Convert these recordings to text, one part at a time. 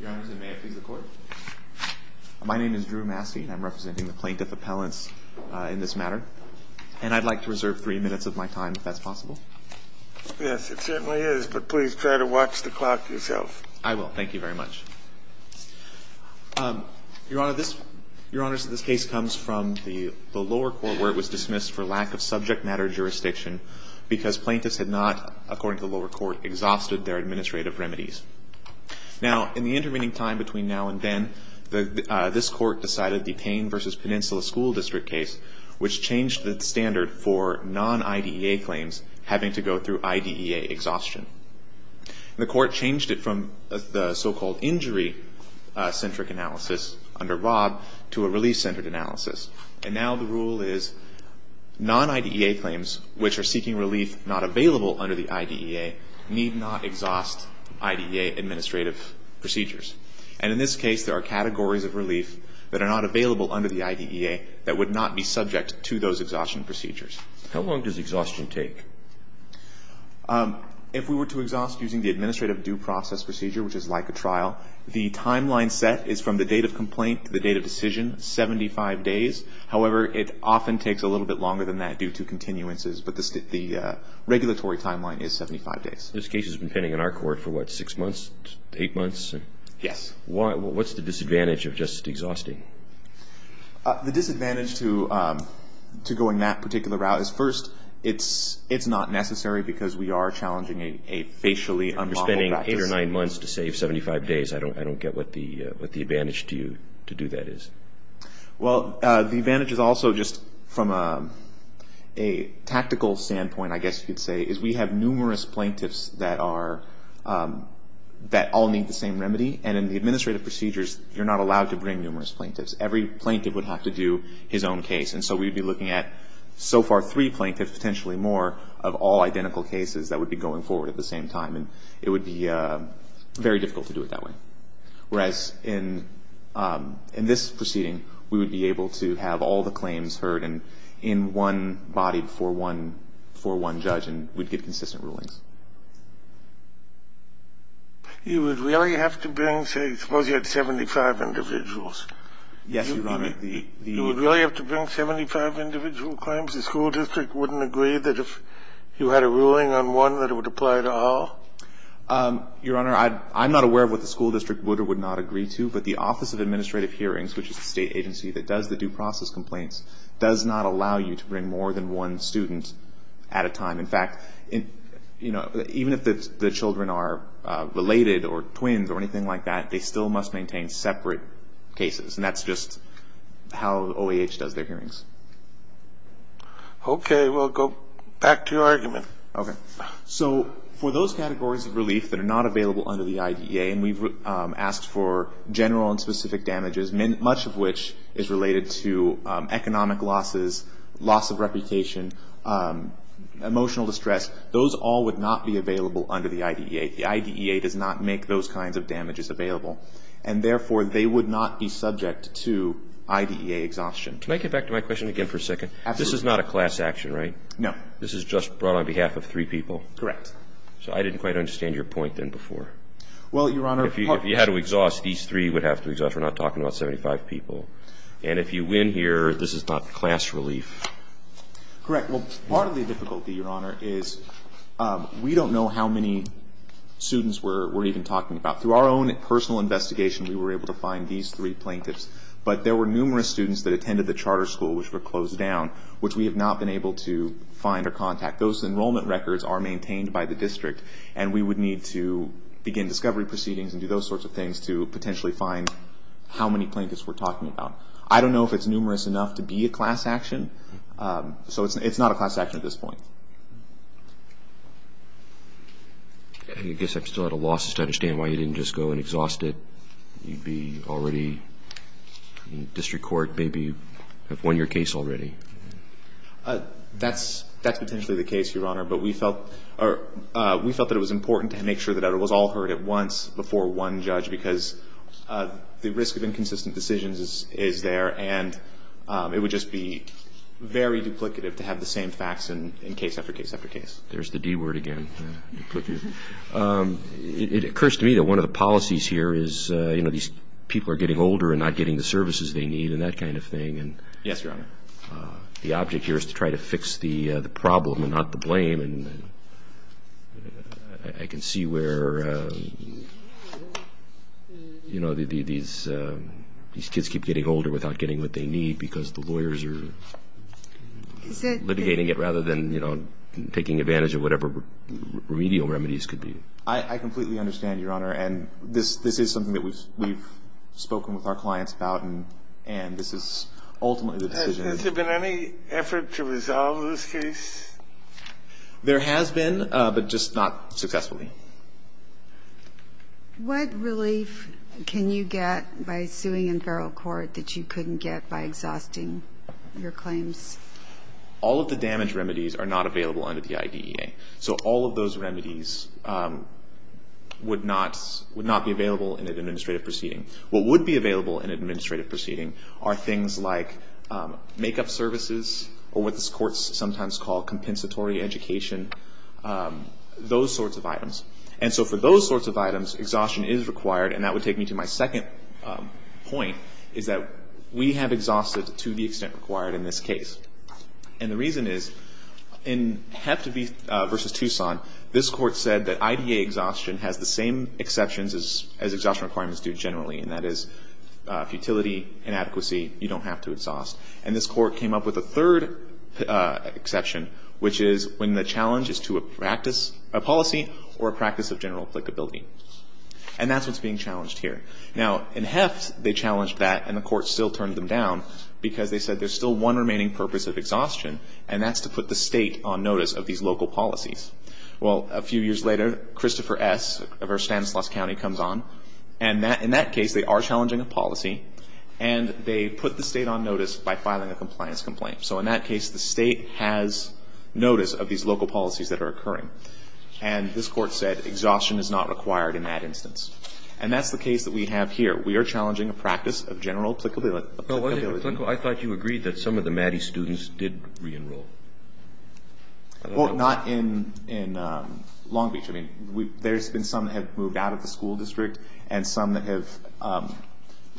Your Honor, may I please have the court? My name is Drew Mastey and I'm representing the plaintiff appellants in this matter. And I'd like to reserve three minutes of my time if that's possible. Yes, it certainly is, but please try to watch the clock yourself. I will. Thank you very much. Your Honor, this case comes from the lower court where it was dismissed for lack of subject matter jurisdiction because plaintiffs had not, according to the lower court, exhausted their administrative remedies. Now, in the intervening time between now and then, this court decided the Payne v. Peninsula School District case, which changed the standard for non-IDEA claims having to go through IDEA exhaustion. The court changed it from the so-called injury-centric analysis under Rob to a relief-centered analysis. And now the rule is non-IDEA claims, which are seeking relief not available under the IDEA, need not exhaust IDEA administrative procedures. And in this case, there are categories of relief that are not available under the IDEA that would not be subject to those exhaustion procedures. How long does exhaustion take? If we were to exhaust using the administrative due process procedure, which is like a trial, the timeline set is from the date of complaint to the date of decision, 75 days. However, it often takes a little bit longer than that due to continuances, but the regulatory timeline is 75 days. This case has been pending in our court for, what, six months, eight months? Yes. What's the disadvantage of just exhausting? The disadvantage to going that particular route is, first, it's not necessary because we are challenging a facially unmodeled practice. If you're spending eight or nine months to save 75 days, I don't get what the advantage to you to do that is. Well, the advantage is also just from a tactical standpoint, I guess you could say, is we have numerous plaintiffs that all need the same remedy. And in the administrative procedures, you're not allowed to bring numerous plaintiffs. Every plaintiff would have to do his own case. And so we'd be looking at so far three plaintiffs, potentially more, of all identical cases that would be going forward at the same time. And it would be very difficult to do it that way. Whereas in this proceeding, we would be able to have all the claims heard in one body for one judge and we'd get consistent rulings. You would really have to bring, say, suppose you had 75 individuals. Yes, Your Honor. You would really have to bring 75 individual claims? Suppose the school district wouldn't agree that if you had a ruling on one that it would apply to all? Your Honor, I'm not aware of what the school district would or would not agree to, but the Office of Administrative Hearings, which is the state agency that does the due process complaints, does not allow you to bring more than one student at a time. In fact, you know, even if the children are related or twins or anything like that, they still must maintain separate cases. And that's just how OAH does their hearings. Okay. Well, go back to your argument. Okay. So for those categories of relief that are not available under the IDEA, and we've asked for general and specific damages, much of which is related to economic losses, loss of reputation, emotional distress, those all would not be available under the IDEA. The IDEA does not make those kinds of damages available. And, therefore, they would not be subject to IDEA exhaustion. Can I get back to my question again for a second? Absolutely. This is not a class action, right? No. This is just brought on behalf of three people? Correct. So I didn't quite understand your point then before. Well, Your Honor, part of the... If you had to exhaust, these three would have to exhaust. We're not talking about 75 people. And if you win here, this is not class relief? Correct. Well, part of the difficulty, Your Honor, is we don't know how many students we're even talking about. Through our own personal investigation, we were able to find these three plaintiffs, but there were numerous students that attended the charter school which were closed down, which we have not been able to find or contact. Those enrollment records are maintained by the district, and we would need to begin discovery proceedings and do those sorts of things to potentially find how many plaintiffs we're talking about. I don't know if it's numerous enough to be a class action. So it's not a class action at this point. I guess I'm still at a loss to understand why you didn't just go and exhaust it. You'd be already in district court, maybe have won your case already. That's potentially the case, Your Honor, but we felt that it was important to make sure that it was all heard at once before one judge because the risk of inconsistent decisions is there, and it would just be very duplicative to have the same facts in case after case after case. There's the D word again, duplicative. It occurs to me that one of the policies here is, you know, these people are getting older and not getting the services they need and that kind of thing. Yes, Your Honor. The object here is to try to fix the problem and not the blame. And I can see where, you know, these kids keep getting older without getting what they need because the lawyers are litigating it rather than, you know, taking advantage of whatever remedial remedies could be. I completely understand, Your Honor, and this is something that we've spoken with our clients about and this is ultimately the decision. Has there been any effort to resolve this case? There has been, but just not successfully. What relief can you get by suing in feral court that you couldn't get by exhausting your claims? All of the damage remedies are not available under the IDEA. So all of those remedies would not be available in an administrative proceeding. What would be available in an administrative proceeding are things like make-up services or what the courts sometimes call compensatory education, those sorts of items. And so for those sorts of items, exhaustion is required, and that would take me to my second point is that we have exhausted to the extent required in this case. And the reason is in Hep2V versus Tucson, this court said that IDEA exhaustion has the same exceptions as exhaustion requirements do generally, and that is futility, inadequacy, you don't have to exhaust. And this court came up with a third exception, which is when the challenge is to a policy or a practice of general applicability. And that's what's being challenged here. Now, in Heft they challenged that and the court still turned them down because they said there's still one remaining purpose of exhaustion and that's to put the State on notice of these local policies. Well, a few years later, Christopher S. of Erskine-Sluss County comes on, and in that case they are challenging a policy and they put the State on notice by filing a compliance complaint. So in that case the State has notice of these local policies that are occurring. And this court said exhaustion is not required in that instance. And that's the case that we have here. We are challenging a practice of general applicability. I thought you agreed that some of the MADI students did re-enroll. Well, not in Long Beach. I mean, there's been some that have moved out of the school district and some that have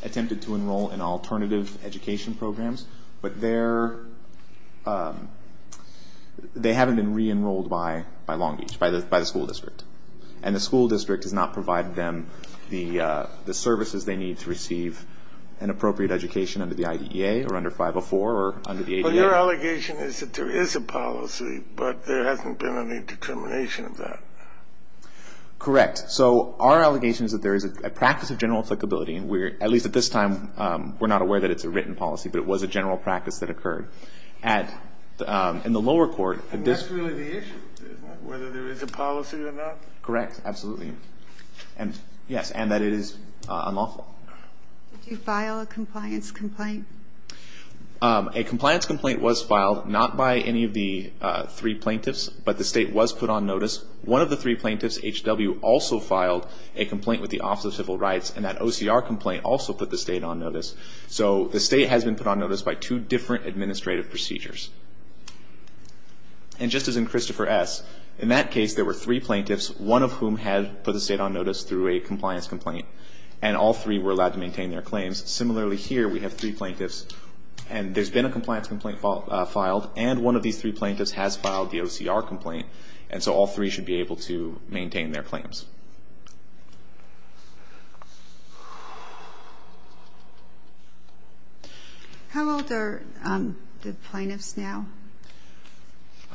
attempted to enroll in alternative education programs, but they haven't been re-enrolled by Long Beach, by the school district. And the school district has not provided them the services they need to receive an appropriate education under the IDEA or under 504 or under the ADA. Well, your allegation is that there is a policy, but there hasn't been any determination of that. Correct. So our allegation is that there is a practice of general applicability, and at least at this time we're not aware that it's a written policy, but it was a general practice that occurred in the lower court. And that's really the issue, isn't it, whether there is a policy or not? Correct. Absolutely. Yes, and that it is unlawful. Did you file a compliance complaint? A compliance complaint was filed, not by any of the three plaintiffs, but the state was put on notice. One of the three plaintiffs, H.W., also filed a complaint with the Office of Civil Rights, and that OCR complaint also put the state on notice. So the state has been put on notice by two different administrative procedures. And just as in Christopher S., in that case there were three plaintiffs, one of whom had put the state on notice through a compliance complaint, and all three were allowed to maintain their claims. Similarly here we have three plaintiffs, and there's been a compliance complaint filed, and one of these three plaintiffs has filed the OCR complaint, and so all three should be able to maintain their claims. How old are the plaintiffs now?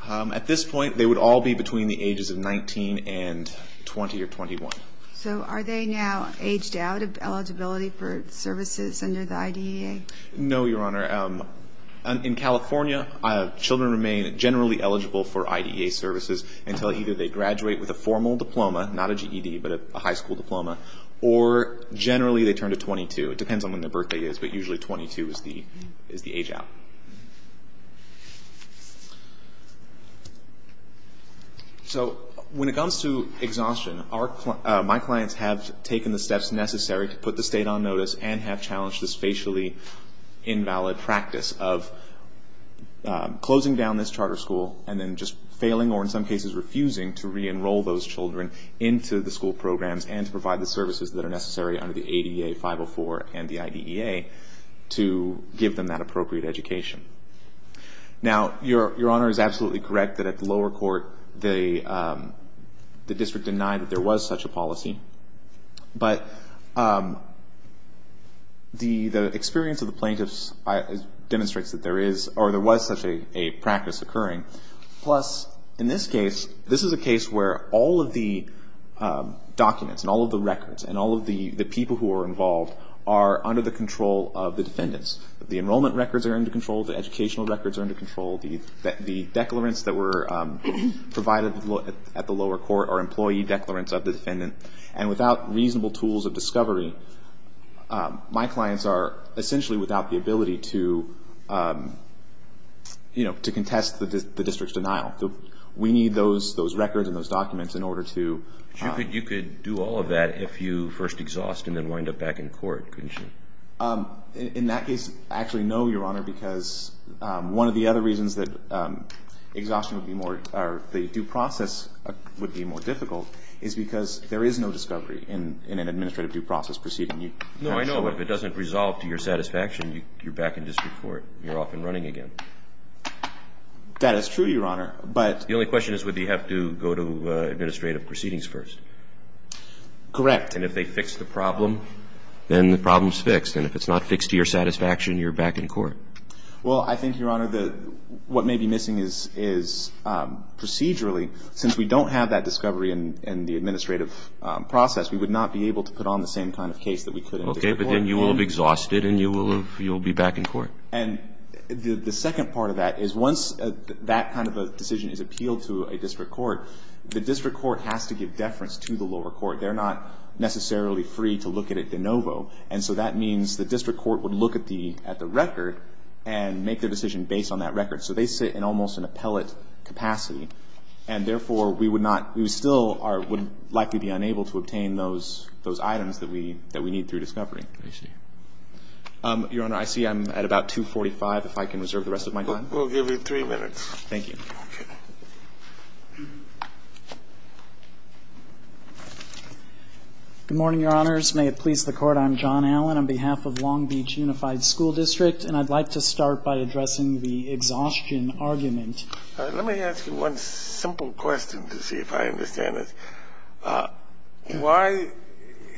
At this point, they would all be between the ages of 19 and 20 or 21. So are they now aged out of eligibility for services under the IDEA? No, Your Honor. In California, children remain generally eligible for IDEA services until either they graduate with a formal diploma, not a GED, but a high school diploma, or generally they turn to 22. It depends on when their birthday is, but usually 22 is the age out. So when it comes to exhaustion, my clients have taken the steps necessary to put the state on notice and have challenged this facially invalid practice of closing down this charter school and then just failing, or in some cases refusing, to re-enroll those children into the school programs and to provide the services that are necessary under the ADA 504 and the IDEA to give them that appropriate education. Now, Your Honor is absolutely correct that at the lower court the district denied that there was such a policy, but the experience of the plaintiffs demonstrates that there was such a practice occurring. Plus, in this case, this is a case where all of the documents and all of the records and all of the people who are involved are under the control of the defendants. The enrollment records are under control. The educational records are under control. The declarants that were provided at the lower court are employee declarants of the defendant. And without reasonable tools of discovery, my clients are essentially without the ability to, you know, to contest the district's denial. We need those records and those documents in order to... But you could do all of that if you first exhaust and then wind up back in court, couldn't you? In that case, actually no, Your Honor, because one of the other reasons that exhaustion would be more, or the due process would be more difficult is because there is no discovery in an administrative due process proceeding. No, I know, but if it doesn't resolve to your satisfaction, you're back in district court. You're off and running again. That is true, Your Honor, but... The only question is whether you have to go to administrative proceedings first. Correct. And if they fix the problem, then the problem's fixed. And if it's not fixed to your satisfaction, you're back in court. Well, I think, Your Honor, what may be missing is procedurally, since we don't have that discovery in the administrative process, we would not be able to put on the same kind of case that we could in district court. Okay, but then you will have exhausted and you will be back in court. And the second part of that is once that kind of a decision is appealed to a district court, the district court has to give deference to the lower court. They're not necessarily free to look at it de novo, and so that means the district court would look at the record and make their decision based on that record. So they sit in almost an appellate capacity, and therefore we still would likely be unable to obtain those items that we need through discovery. I see. I'm at about 2.45 if I can reserve the rest of my time. We'll give you three minutes. Thank you. Good morning, Your Honors. May it please the Court. I'm John Allen on behalf of Long Beach Unified School District, and I'd like to start by addressing the exhaustion argument. Let me ask you one simple question to see if I understand this. Why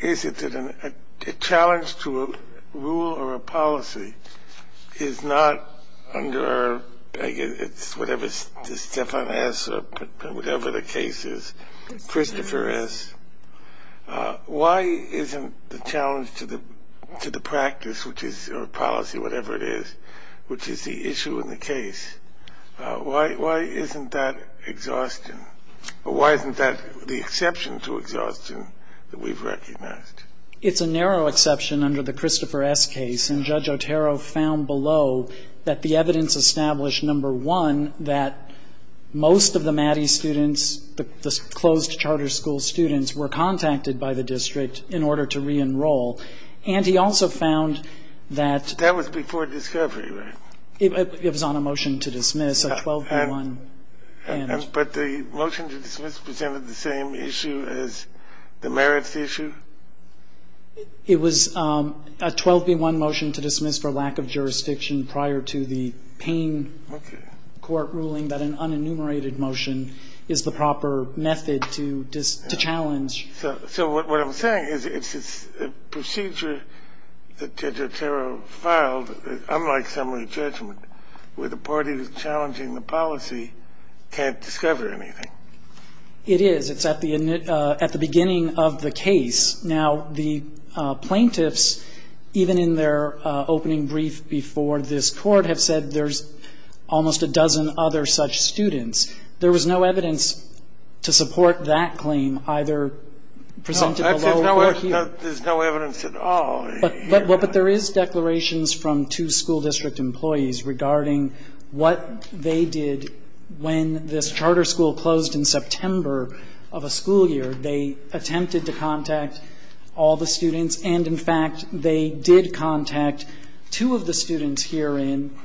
is it that a challenge to a rule or a policy is not under, I guess, it's whatever Stephan has or whatever the case is, Christopher has. Why isn't the challenge to the practice, which is a policy, whatever it is, which is the issue in the case, why isn't that exhaustion? Why isn't that the exception to exhaustion that we've recognized? It's a narrow exception under the Christopher S. case, and Judge Otero found below that the evidence established, number one, that most of the MATI students, the closed charter school students, were contacted by the district in order to reenroll. And he also found that that was before discovery, right? It was on a motion to dismiss, a 12-1. But the motion to dismiss presented the same issue as the merits issue? It was a 12-1 motion to dismiss for lack of jurisdiction prior to the Payne court ruling that an unenumerated motion is the proper method to challenge. So what I'm saying is it's a procedure that Judge Otero filed, unlike summary judgment, where the party who's challenging the policy can't discover anything. It is. It's at the beginning of the case. Now, the plaintiffs, even in their opening brief before this Court, have said there's almost a dozen other such students. There was no evidence to support that claim, either presented below or here. No, there's no evidence at all. But there is declarations from two school district employees regarding what they did when this charter school closed in September of a school year. They attempted to contact all the students. And, in fact, they did contact two of the students herein.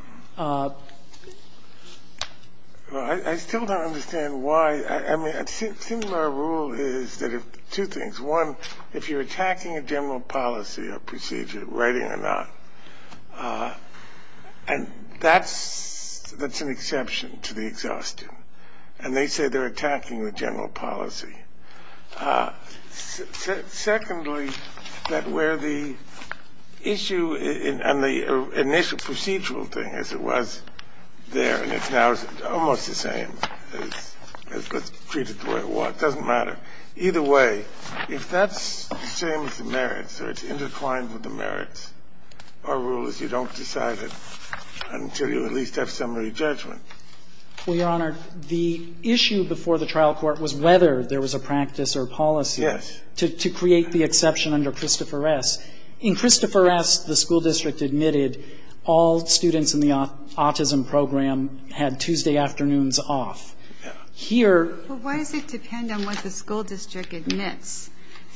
I still don't understand why. I mean, a similar rule is that if two things, one, if you're attacking a general policy or procedure, writing or not, and that's an exception to the exhaustion. And they say they're attacking the general policy. Secondly, that where the issue and the initial procedural thing, as it was there, and it's now almost the same. It's treated the way it was. It doesn't matter. Either way, if that's the same as the merits or it's intertwined with the merits, our rule is you don't decide it until you at least have summary judgment. Well, Your Honor, the issue before the trial court was whether there was a practice or policy to create the exception under Christopher S. In Christopher S., the school district admitted all students in the autism program had Tuesday afternoons off. Here. Well, why does it depend on what the school district admits?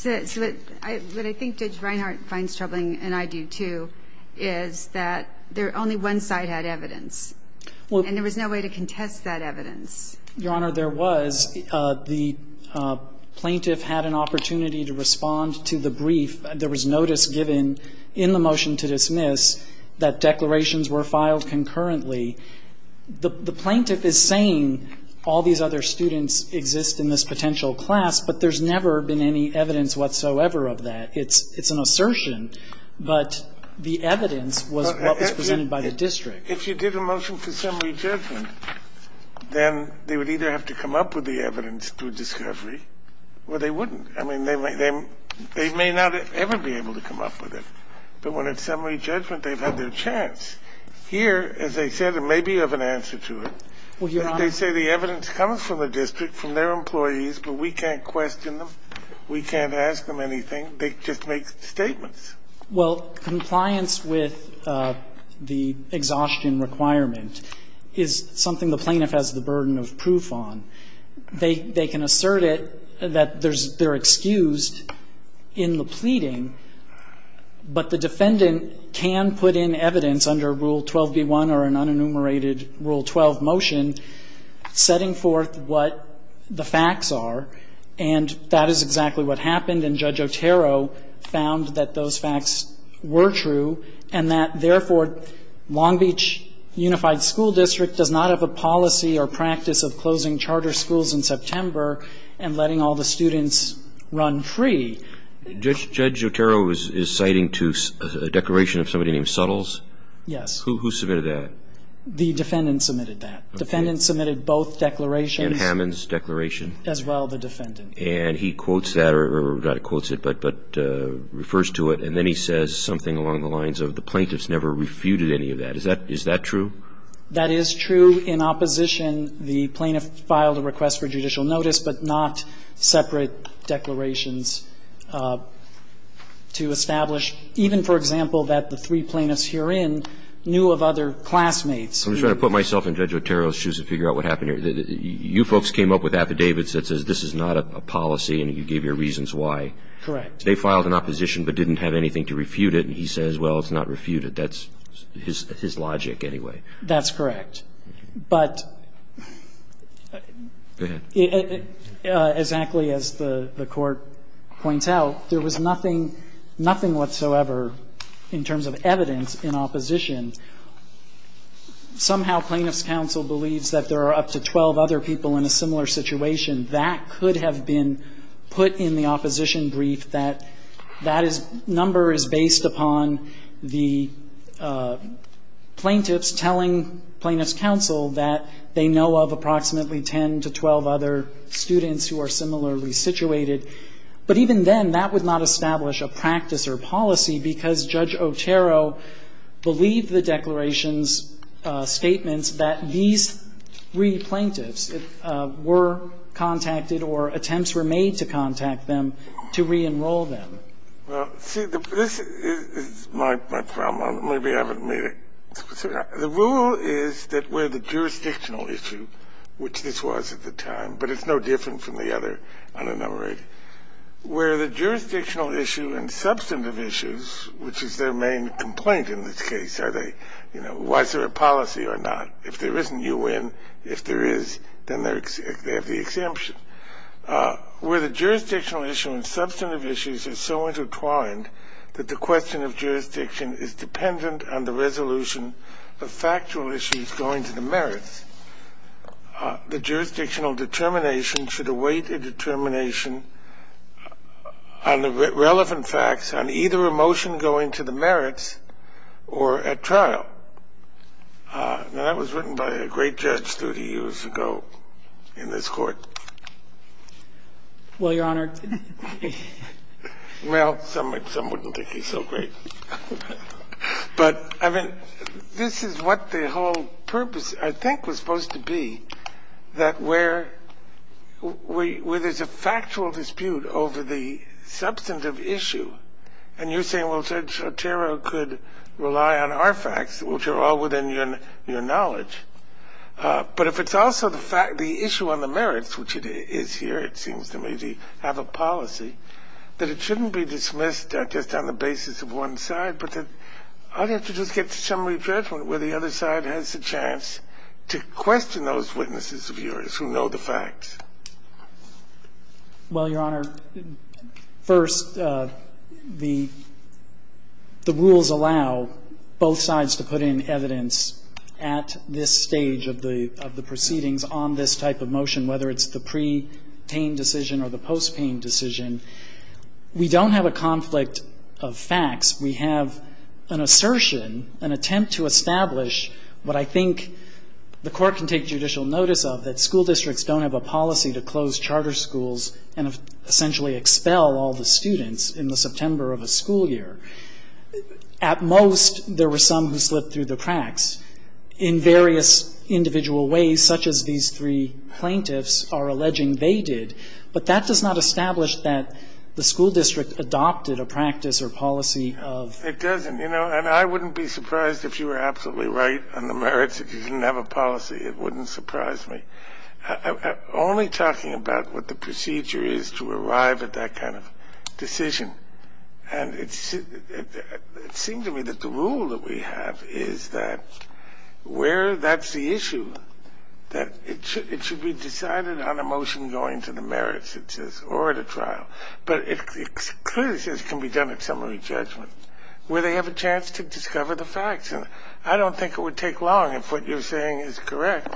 What I think Judge Reinhart finds troubling, and I do, too, is that only one side had evidence. And there was no way to contest that evidence. Your Honor, there was. The plaintiff had an opportunity to respond to the brief. There was notice given in the motion to dismiss that declarations were filed concurrently. The plaintiff is saying all these other students exist in this potential class, but there's never been any evidence whatsoever of that. It's an assertion. But the evidence was what was presented by the district. If you did a motion to summary judgment, then they would either have to come up with the evidence through discovery, or they wouldn't. I mean, they may not ever be able to come up with it. But when it's summary judgment, they've had their chance. Here, as I said, it may be of an answer to it. Well, Your Honor. They say the evidence comes from the district, from their employees, but we can't question them. We can't ask them anything. They just make statements. Well, compliance with the exhaustion requirement is something the plaintiff has the burden of proof on. They can assert it that they're excused in the pleading, but the defendant can put in evidence under Rule 12b-1 or an unenumerated Rule 12 motion setting forth what the facts are. And that is exactly what happened, and Judge Otero found that those facts were true and that, therefore, Long Beach Unified School District does not have a policy or practice of closing charter schools in September and letting all the students run free. Judge Otero is citing to a declaration of somebody named Suttles? Yes. Who submitted that? The defendant submitted that. The defendant submitted both declarations. And Hammond's declaration? As well, the defendant. And he quotes that, or not quotes it, but refers to it, and then he says something along the lines of the plaintiff's never refuted any of that. Is that true? That is true. In opposition, the plaintiff filed a request for judicial notice, but not separate declarations to establish even, for example, that the three plaintiffs herein knew of other classmates. I'm just going to put myself in Judge Otero's shoes to figure out what happened here. You folks came up with affidavits that says this is not a policy and you gave your reasons why. Correct. They filed an opposition but didn't have anything to refute it, and he says, well, it's not refuted. That's his logic anyway. That's correct. But exactly as the Court points out, there was nothing, nothing whatsoever in terms of evidence in opposition. Somehow Plaintiff's counsel believes that there are up to 12 other people in a similar situation. That could have been put in the opposition brief, that that number is based upon the plaintiffs telling Plaintiff's counsel that they know of approximately 10 to 12 other students who are similarly situated. But even then, that would not establish a practice or policy because Judge Otero believed the declaration's statements that these three plaintiffs were contacted or attempts were made to contact them to reenroll them. Well, see, this is my problem. Maybe I haven't made it specific. The rule is that where the jurisdictional issue, which this was at the time, but it's no different from the other unenumerated, where the jurisdictional issue and substantive issues, which is their main complaint in this case, are they, you know, was there a policy or not? If there isn't, you win. If there is, then they have the exemption. Where the jurisdictional issue and substantive issues are so intertwined that the question of jurisdiction is dependent on the resolution of factual issues going to the merits, the jurisdictional determination should await a determination on the relevant facts on either a motion going to the merits or at trial. Now, that was written by a great judge 30 years ago in this Court. Well, Your Honor. Well, some wouldn't think he's so great. But, I mean, this is what the whole purpose, I think, was supposed to be, that where there's a factual dispute over the substantive issue and you're saying, well, Judge Kagan, I'm not sure I'm going to be able to get to the merits because I don't know the facts. I'm not going to be able to get to the merits, which are all within your knowledge. But if it's also the issue on the merits, which it is here, it seems to me, they have a policy that it shouldn't be dismissed just on the basis of one side, but that I'd have to just get to a summary judgment where the other side has a chance to question those witnesses of yours who know the facts. Well, Your Honor, first, the rules allow both sides to put in evidence at this stage of the proceedings on this type of motion, whether it's the pre-paying decision or the post-paying decision. We don't have a conflict of facts. We have an assertion, an attempt to establish what I think the Court can take judicial notice of, that school districts don't have a policy to close charter schools and essentially expel all the students in the September of a school year. At most, there were some who slipped through the cracks in various individual ways, such as these three plaintiffs are alleging they did. But that does not establish that the school district adopted a practice or policy of ---- It doesn't. You know, and I wouldn't be surprised if you were absolutely right on the merits if you didn't have a policy. It wouldn't surprise me. Only talking about what the procedure is to arrive at that kind of decision, and it seems to me that the rule that we have is that where that's the issue, that it should be decided on a motion going to the merits, it says, or at a trial. But it clearly says it can be done at summary judgment where they have a chance to discover the facts. And I don't think it would take long if what you're saying is correct.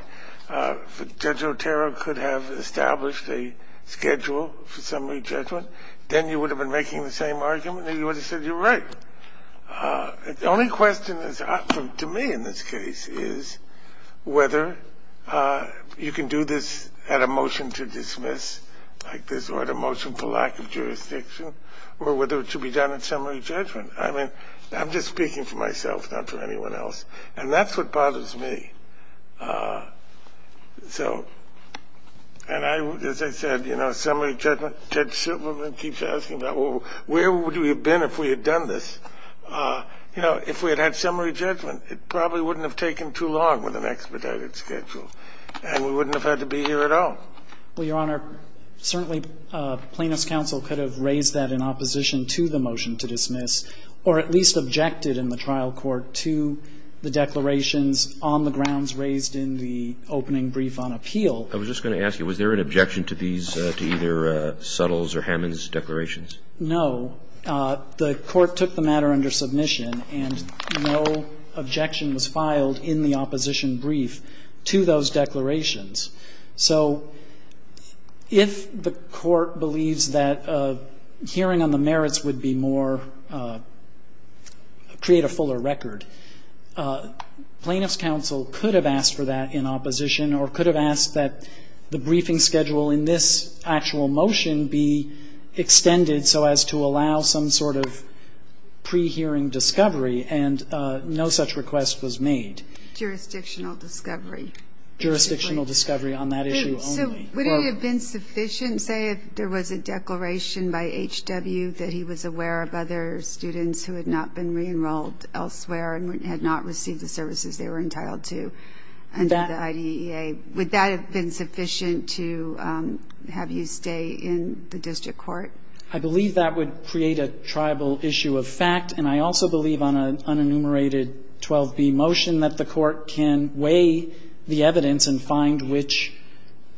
Judge Otero could have established a schedule for summary judgment. Then you would have been making the same argument and you would have said you're right. The only question to me in this case is whether you can do this at a motion to dismiss like this or at a motion for lack of jurisdiction or whether it should be done at summary judgment. I mean, I'm just speaking for myself, not for anyone else. And that's what bothers me. So, and as I said, you know, summary judgment, Ted Silverman keeps asking about, well, where would we have been if we had done this? You know, if we had had summary judgment, it probably wouldn't have taken too long with an expedited schedule, and we wouldn't have had to be here at all. Well, Your Honor, certainly Plaintiff's counsel could have raised that in opposition to the motion to dismiss or at least objected in the trial court to the declarations on the grounds raised in the opening brief on appeal. I was just going to ask you, was there an objection to these, to either Suttle's or Hammond's declarations? No. The Court took the matter under submission and no objection was filed in the opposition brief to those declarations. So if the Court believes that hearing on the merits would be more, create a fuller record, Plaintiff's counsel could have asked for that in opposition or could have asked that the briefing schedule in this actual motion be extended so as to allow some sort of pre-hearing discovery, and no such request was made. Jurisdictional discovery. Jurisdictional discovery on that issue only. So would it have been sufficient, say, if there was a declaration by H.W. that he was aware of other students who had not been re-enrolled elsewhere and had not received the services they were entitled to under the IDEA? Would that have been sufficient to have you stay in the district court? I believe that would create a tribal issue of fact, and I also believe on an unenumerated 12b motion that the Court can weigh the evidence and find which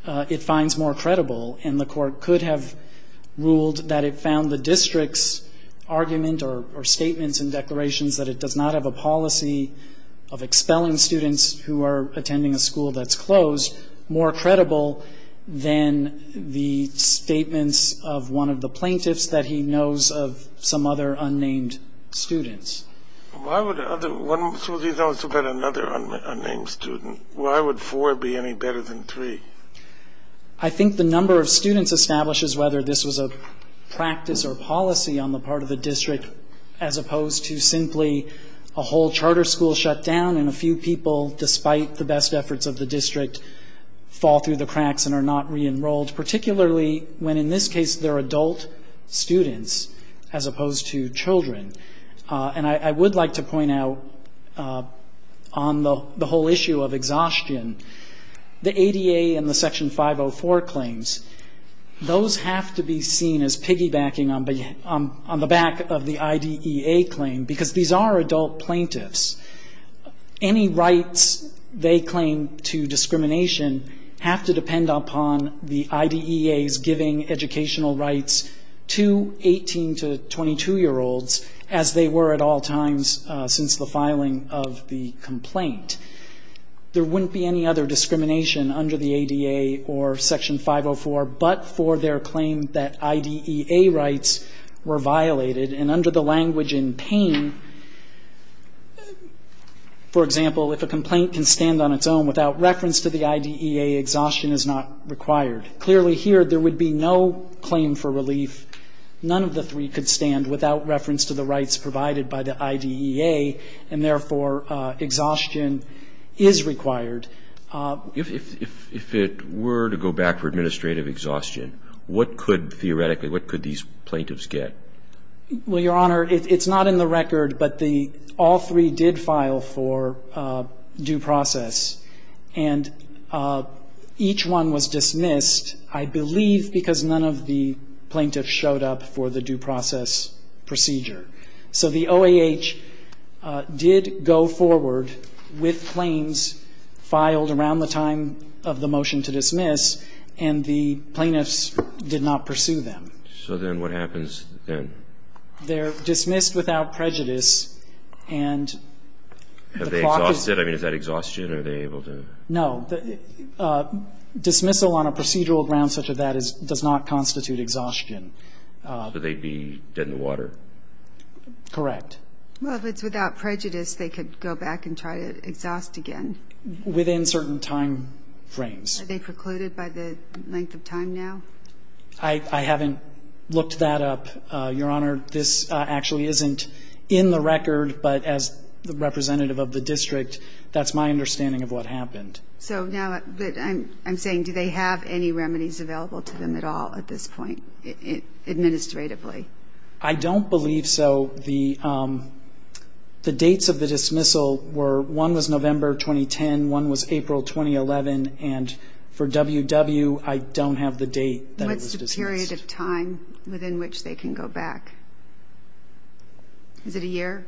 it finds more credible, and the Court could have ruled that it found the district's argument or statements and declarations that it does not have a policy of expelling students who are attending a school that's closed more credible than the statements of one of the plaintiffs that he knows of some other unnamed students. Why would another unnamed student, why would four be any better than three? I think the number of students establishes whether this was a practice or policy on the part of the district as opposed to simply a whole charter school shut down and a few people, despite the best efforts of the district, fall through the cracks and are not re-enrolled, particularly when in this case they're adult students as opposed to children. And I would like to point out on the whole issue of exhaustion, the ADA and the Section 504 claims, those have to be seen as piggybacking on the back of the IDEA claim because these are adult plaintiffs. Any rights they claim to discrimination have to depend upon the IDEA's giving educational rights to 18- to 22-year-olds as they were at all times since the filing of the complaint. There wouldn't be any other discrimination under the ADA or Section 504 but for their claim that IDEA rights were violated. And under the language in pain, for example, if a complaint can stand on its own without reference to the IDEA, exhaustion is not required. Clearly here there would be no claim for relief. None of the three could stand without reference to the rights provided by the IDEA and, therefore, exhaustion is required. If it were to go back for administrative exhaustion, what could theoretically what could these plaintiffs get? Well, Your Honor, it's not in the record, but the all three did file for due process and each one was dismissed, I believe, because none of the plaintiffs showed up for the due process procedure. So the OAH did go forward with claims filed around the time of the motion to dismiss and the plaintiffs did not pursue them. So then what happens then? They're dismissed without prejudice and the clock is... Have they exhausted? I mean, is that exhaustion? Are they able to... No. Dismissal on a procedural ground such as that does not constitute exhaustion. So they'd be dead in the water. Correct. Well, if it's without prejudice, they could go back and try to exhaust again. Within certain time frames. Are they precluded by the length of time now? I haven't looked that up, Your Honor. This actually isn't in the record, but as the representative of the district, that's my understanding of what happened. So now I'm saying do they have any remedies available to them at all at this point administratively? I don't believe so. The dates of the dismissal were, one was November 2010, one was April 2011, and for WW, I don't have the date that it was dismissed. What's the period of time within which they can go back? Is it a year?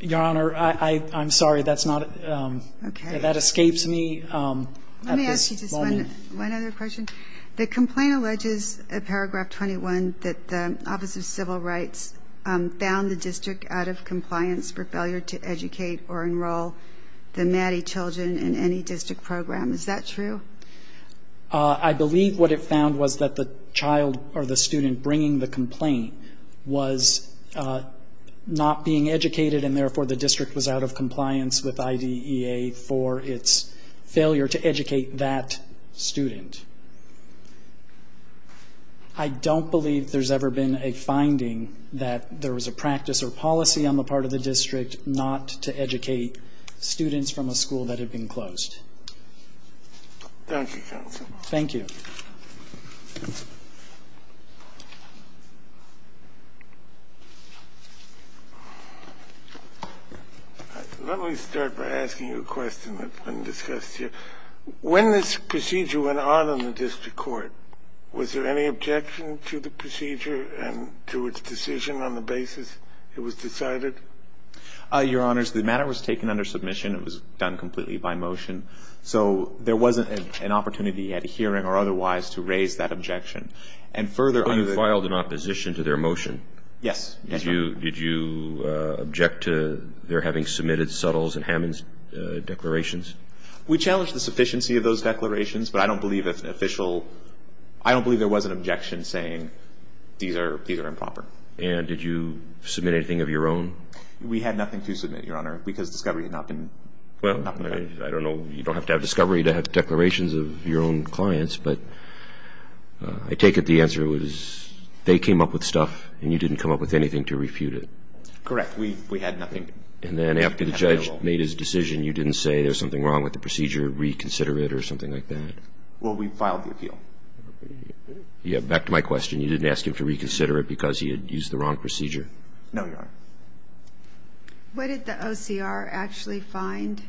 Your Honor, I'm sorry, that escapes me. Let me ask you just one other question. The complaint alleges in Paragraph 21 that the Office of Civil Rights found the district out of compliance for failure to educate or enroll the Maddie children in any district program. Is that true? I believe what it found was that the child or the student bringing the complaint was not being educated, and therefore the district was out of compliance with IDEA for its failure to educate that student. I don't believe there's ever been a finding that there was a practice or policy on the part of the district not to educate students from a school that had been closed. Thank you, counsel. Thank you. Let me start by asking you a question that's been discussed here. When this procedure went out on the district court, was there any objection to the procedure and to its decision on the basis it was decided? Your Honors, the matter was taken under submission. It was done completely by motion. So there wasn't an opportunity at a hearing or otherwise to raise that objection. And further under the ---- But you filed in opposition to their motion. Yes. Did you object to their having submitted Suttles and Hammond's declarations? We challenged the sufficiency of those declarations, but I don't believe there was an objection saying these are improper. And did you submit anything of your own? We had nothing to submit, Your Honor, because discovery had not been made. Well, I don't know. You don't have to have discovery to have declarations of your own clients, but I take it the answer was they came up with stuff and you didn't come up with anything to refute it. Correct. We had nothing. And then after the judge made his decision, you didn't say there was something wrong with the procedure, reconsider it or something like that? Well, we filed the appeal. Back to my question, you didn't ask him to reconsider it because he had used the wrong procedure? No, Your Honor. What did the OCR actually find?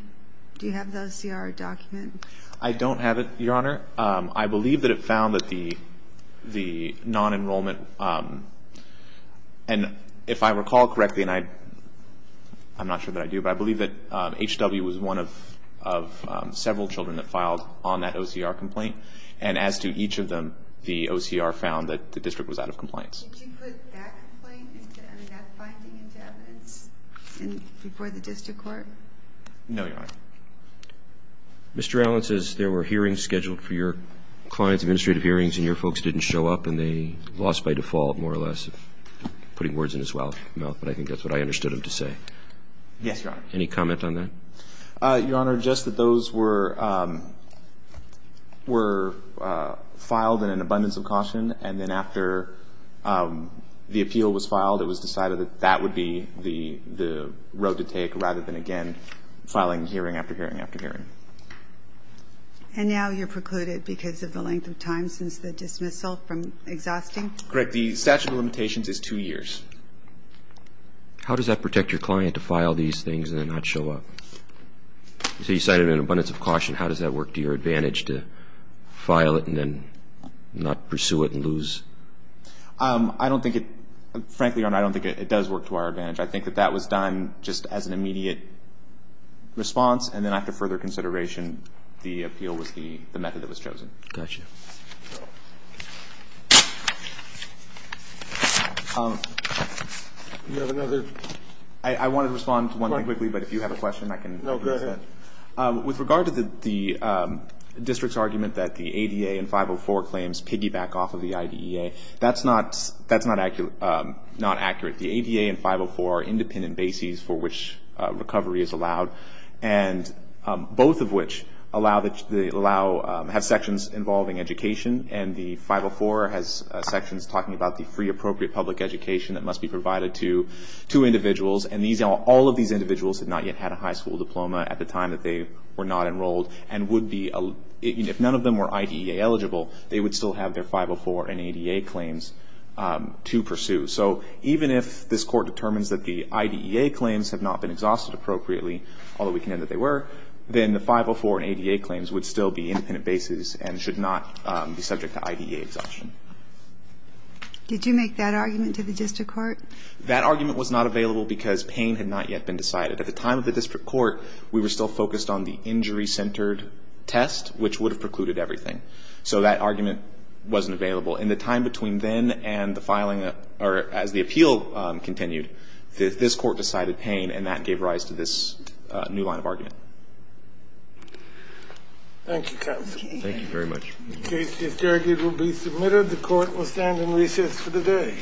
Do you have the OCR document? I don't have it, Your Honor. I believe that it found that the non-enrollment ---- and if I recall correctly, and I'm not sure that I do, but I believe that H.W. was one of several children that filed on that OCR complaint and as to each of them, the OCR found that the district was out of compliance. Did you put that finding into evidence before the district court? No, Your Honor. Mr. Allen says there were hearings scheduled for your clients, administrative hearings, and your folks didn't show up and they lost by default more or less, putting words in his mouth, but I think that's what I understood him to say. Yes, Your Honor. Any comment on that? Your Honor, just that those were filed in an abundance of caution and then after the appeal was filed, it was decided that that would be the road to take rather than, again, filing hearing after hearing after hearing. And now you're precluded because of the length of time since the dismissal from exhausting? Correct. The statute of limitations is two years. How does that protect your client to file these things and then not show up? So you cited an abundance of caution. How does that work to your advantage to file it and then not pursue it and lose? I don't think it, frankly, Your Honor, I don't think it does work to our advantage. I think that that was done just as an immediate response and then after further consideration the appeal was the method that was chosen. Got you. Do you have another? I wanted to respond to one thing quickly, but if you have a question I can. No, go ahead. With regard to the district's argument that the ADA and 504 claims piggyback off of the IDEA, that's not accurate. The ADA and 504 are independent bases for which recovery is allowed and both of which have sections involving education and the 504 has sections talking about the free appropriate public education that must be provided to individuals. And all of these individuals have not yet had a high school diploma at the time that they were not enrolled and would be, if none of them were IDEA eligible, they would still have their 504 and ADA claims to pursue. So even if this Court determines that the IDEA claims have not been exhausted appropriately, although we can know that they were, then the 504 and ADA claims would still be independent bases and should not be subject to IDEA exhaustion. Did you make that argument to the district court? That argument was not available because pain had not yet been decided. At the time of the district court we were still focused on the injury-centered test, which would have precluded everything. So that argument wasn't available. In the time between then and the filing, or as the appeal continued, this Court decided pain and that gave rise to this new line of argument. Thank you, counsel. Thank you very much. The case is adjourned. It will be submitted. The Court will stand in recess for the day.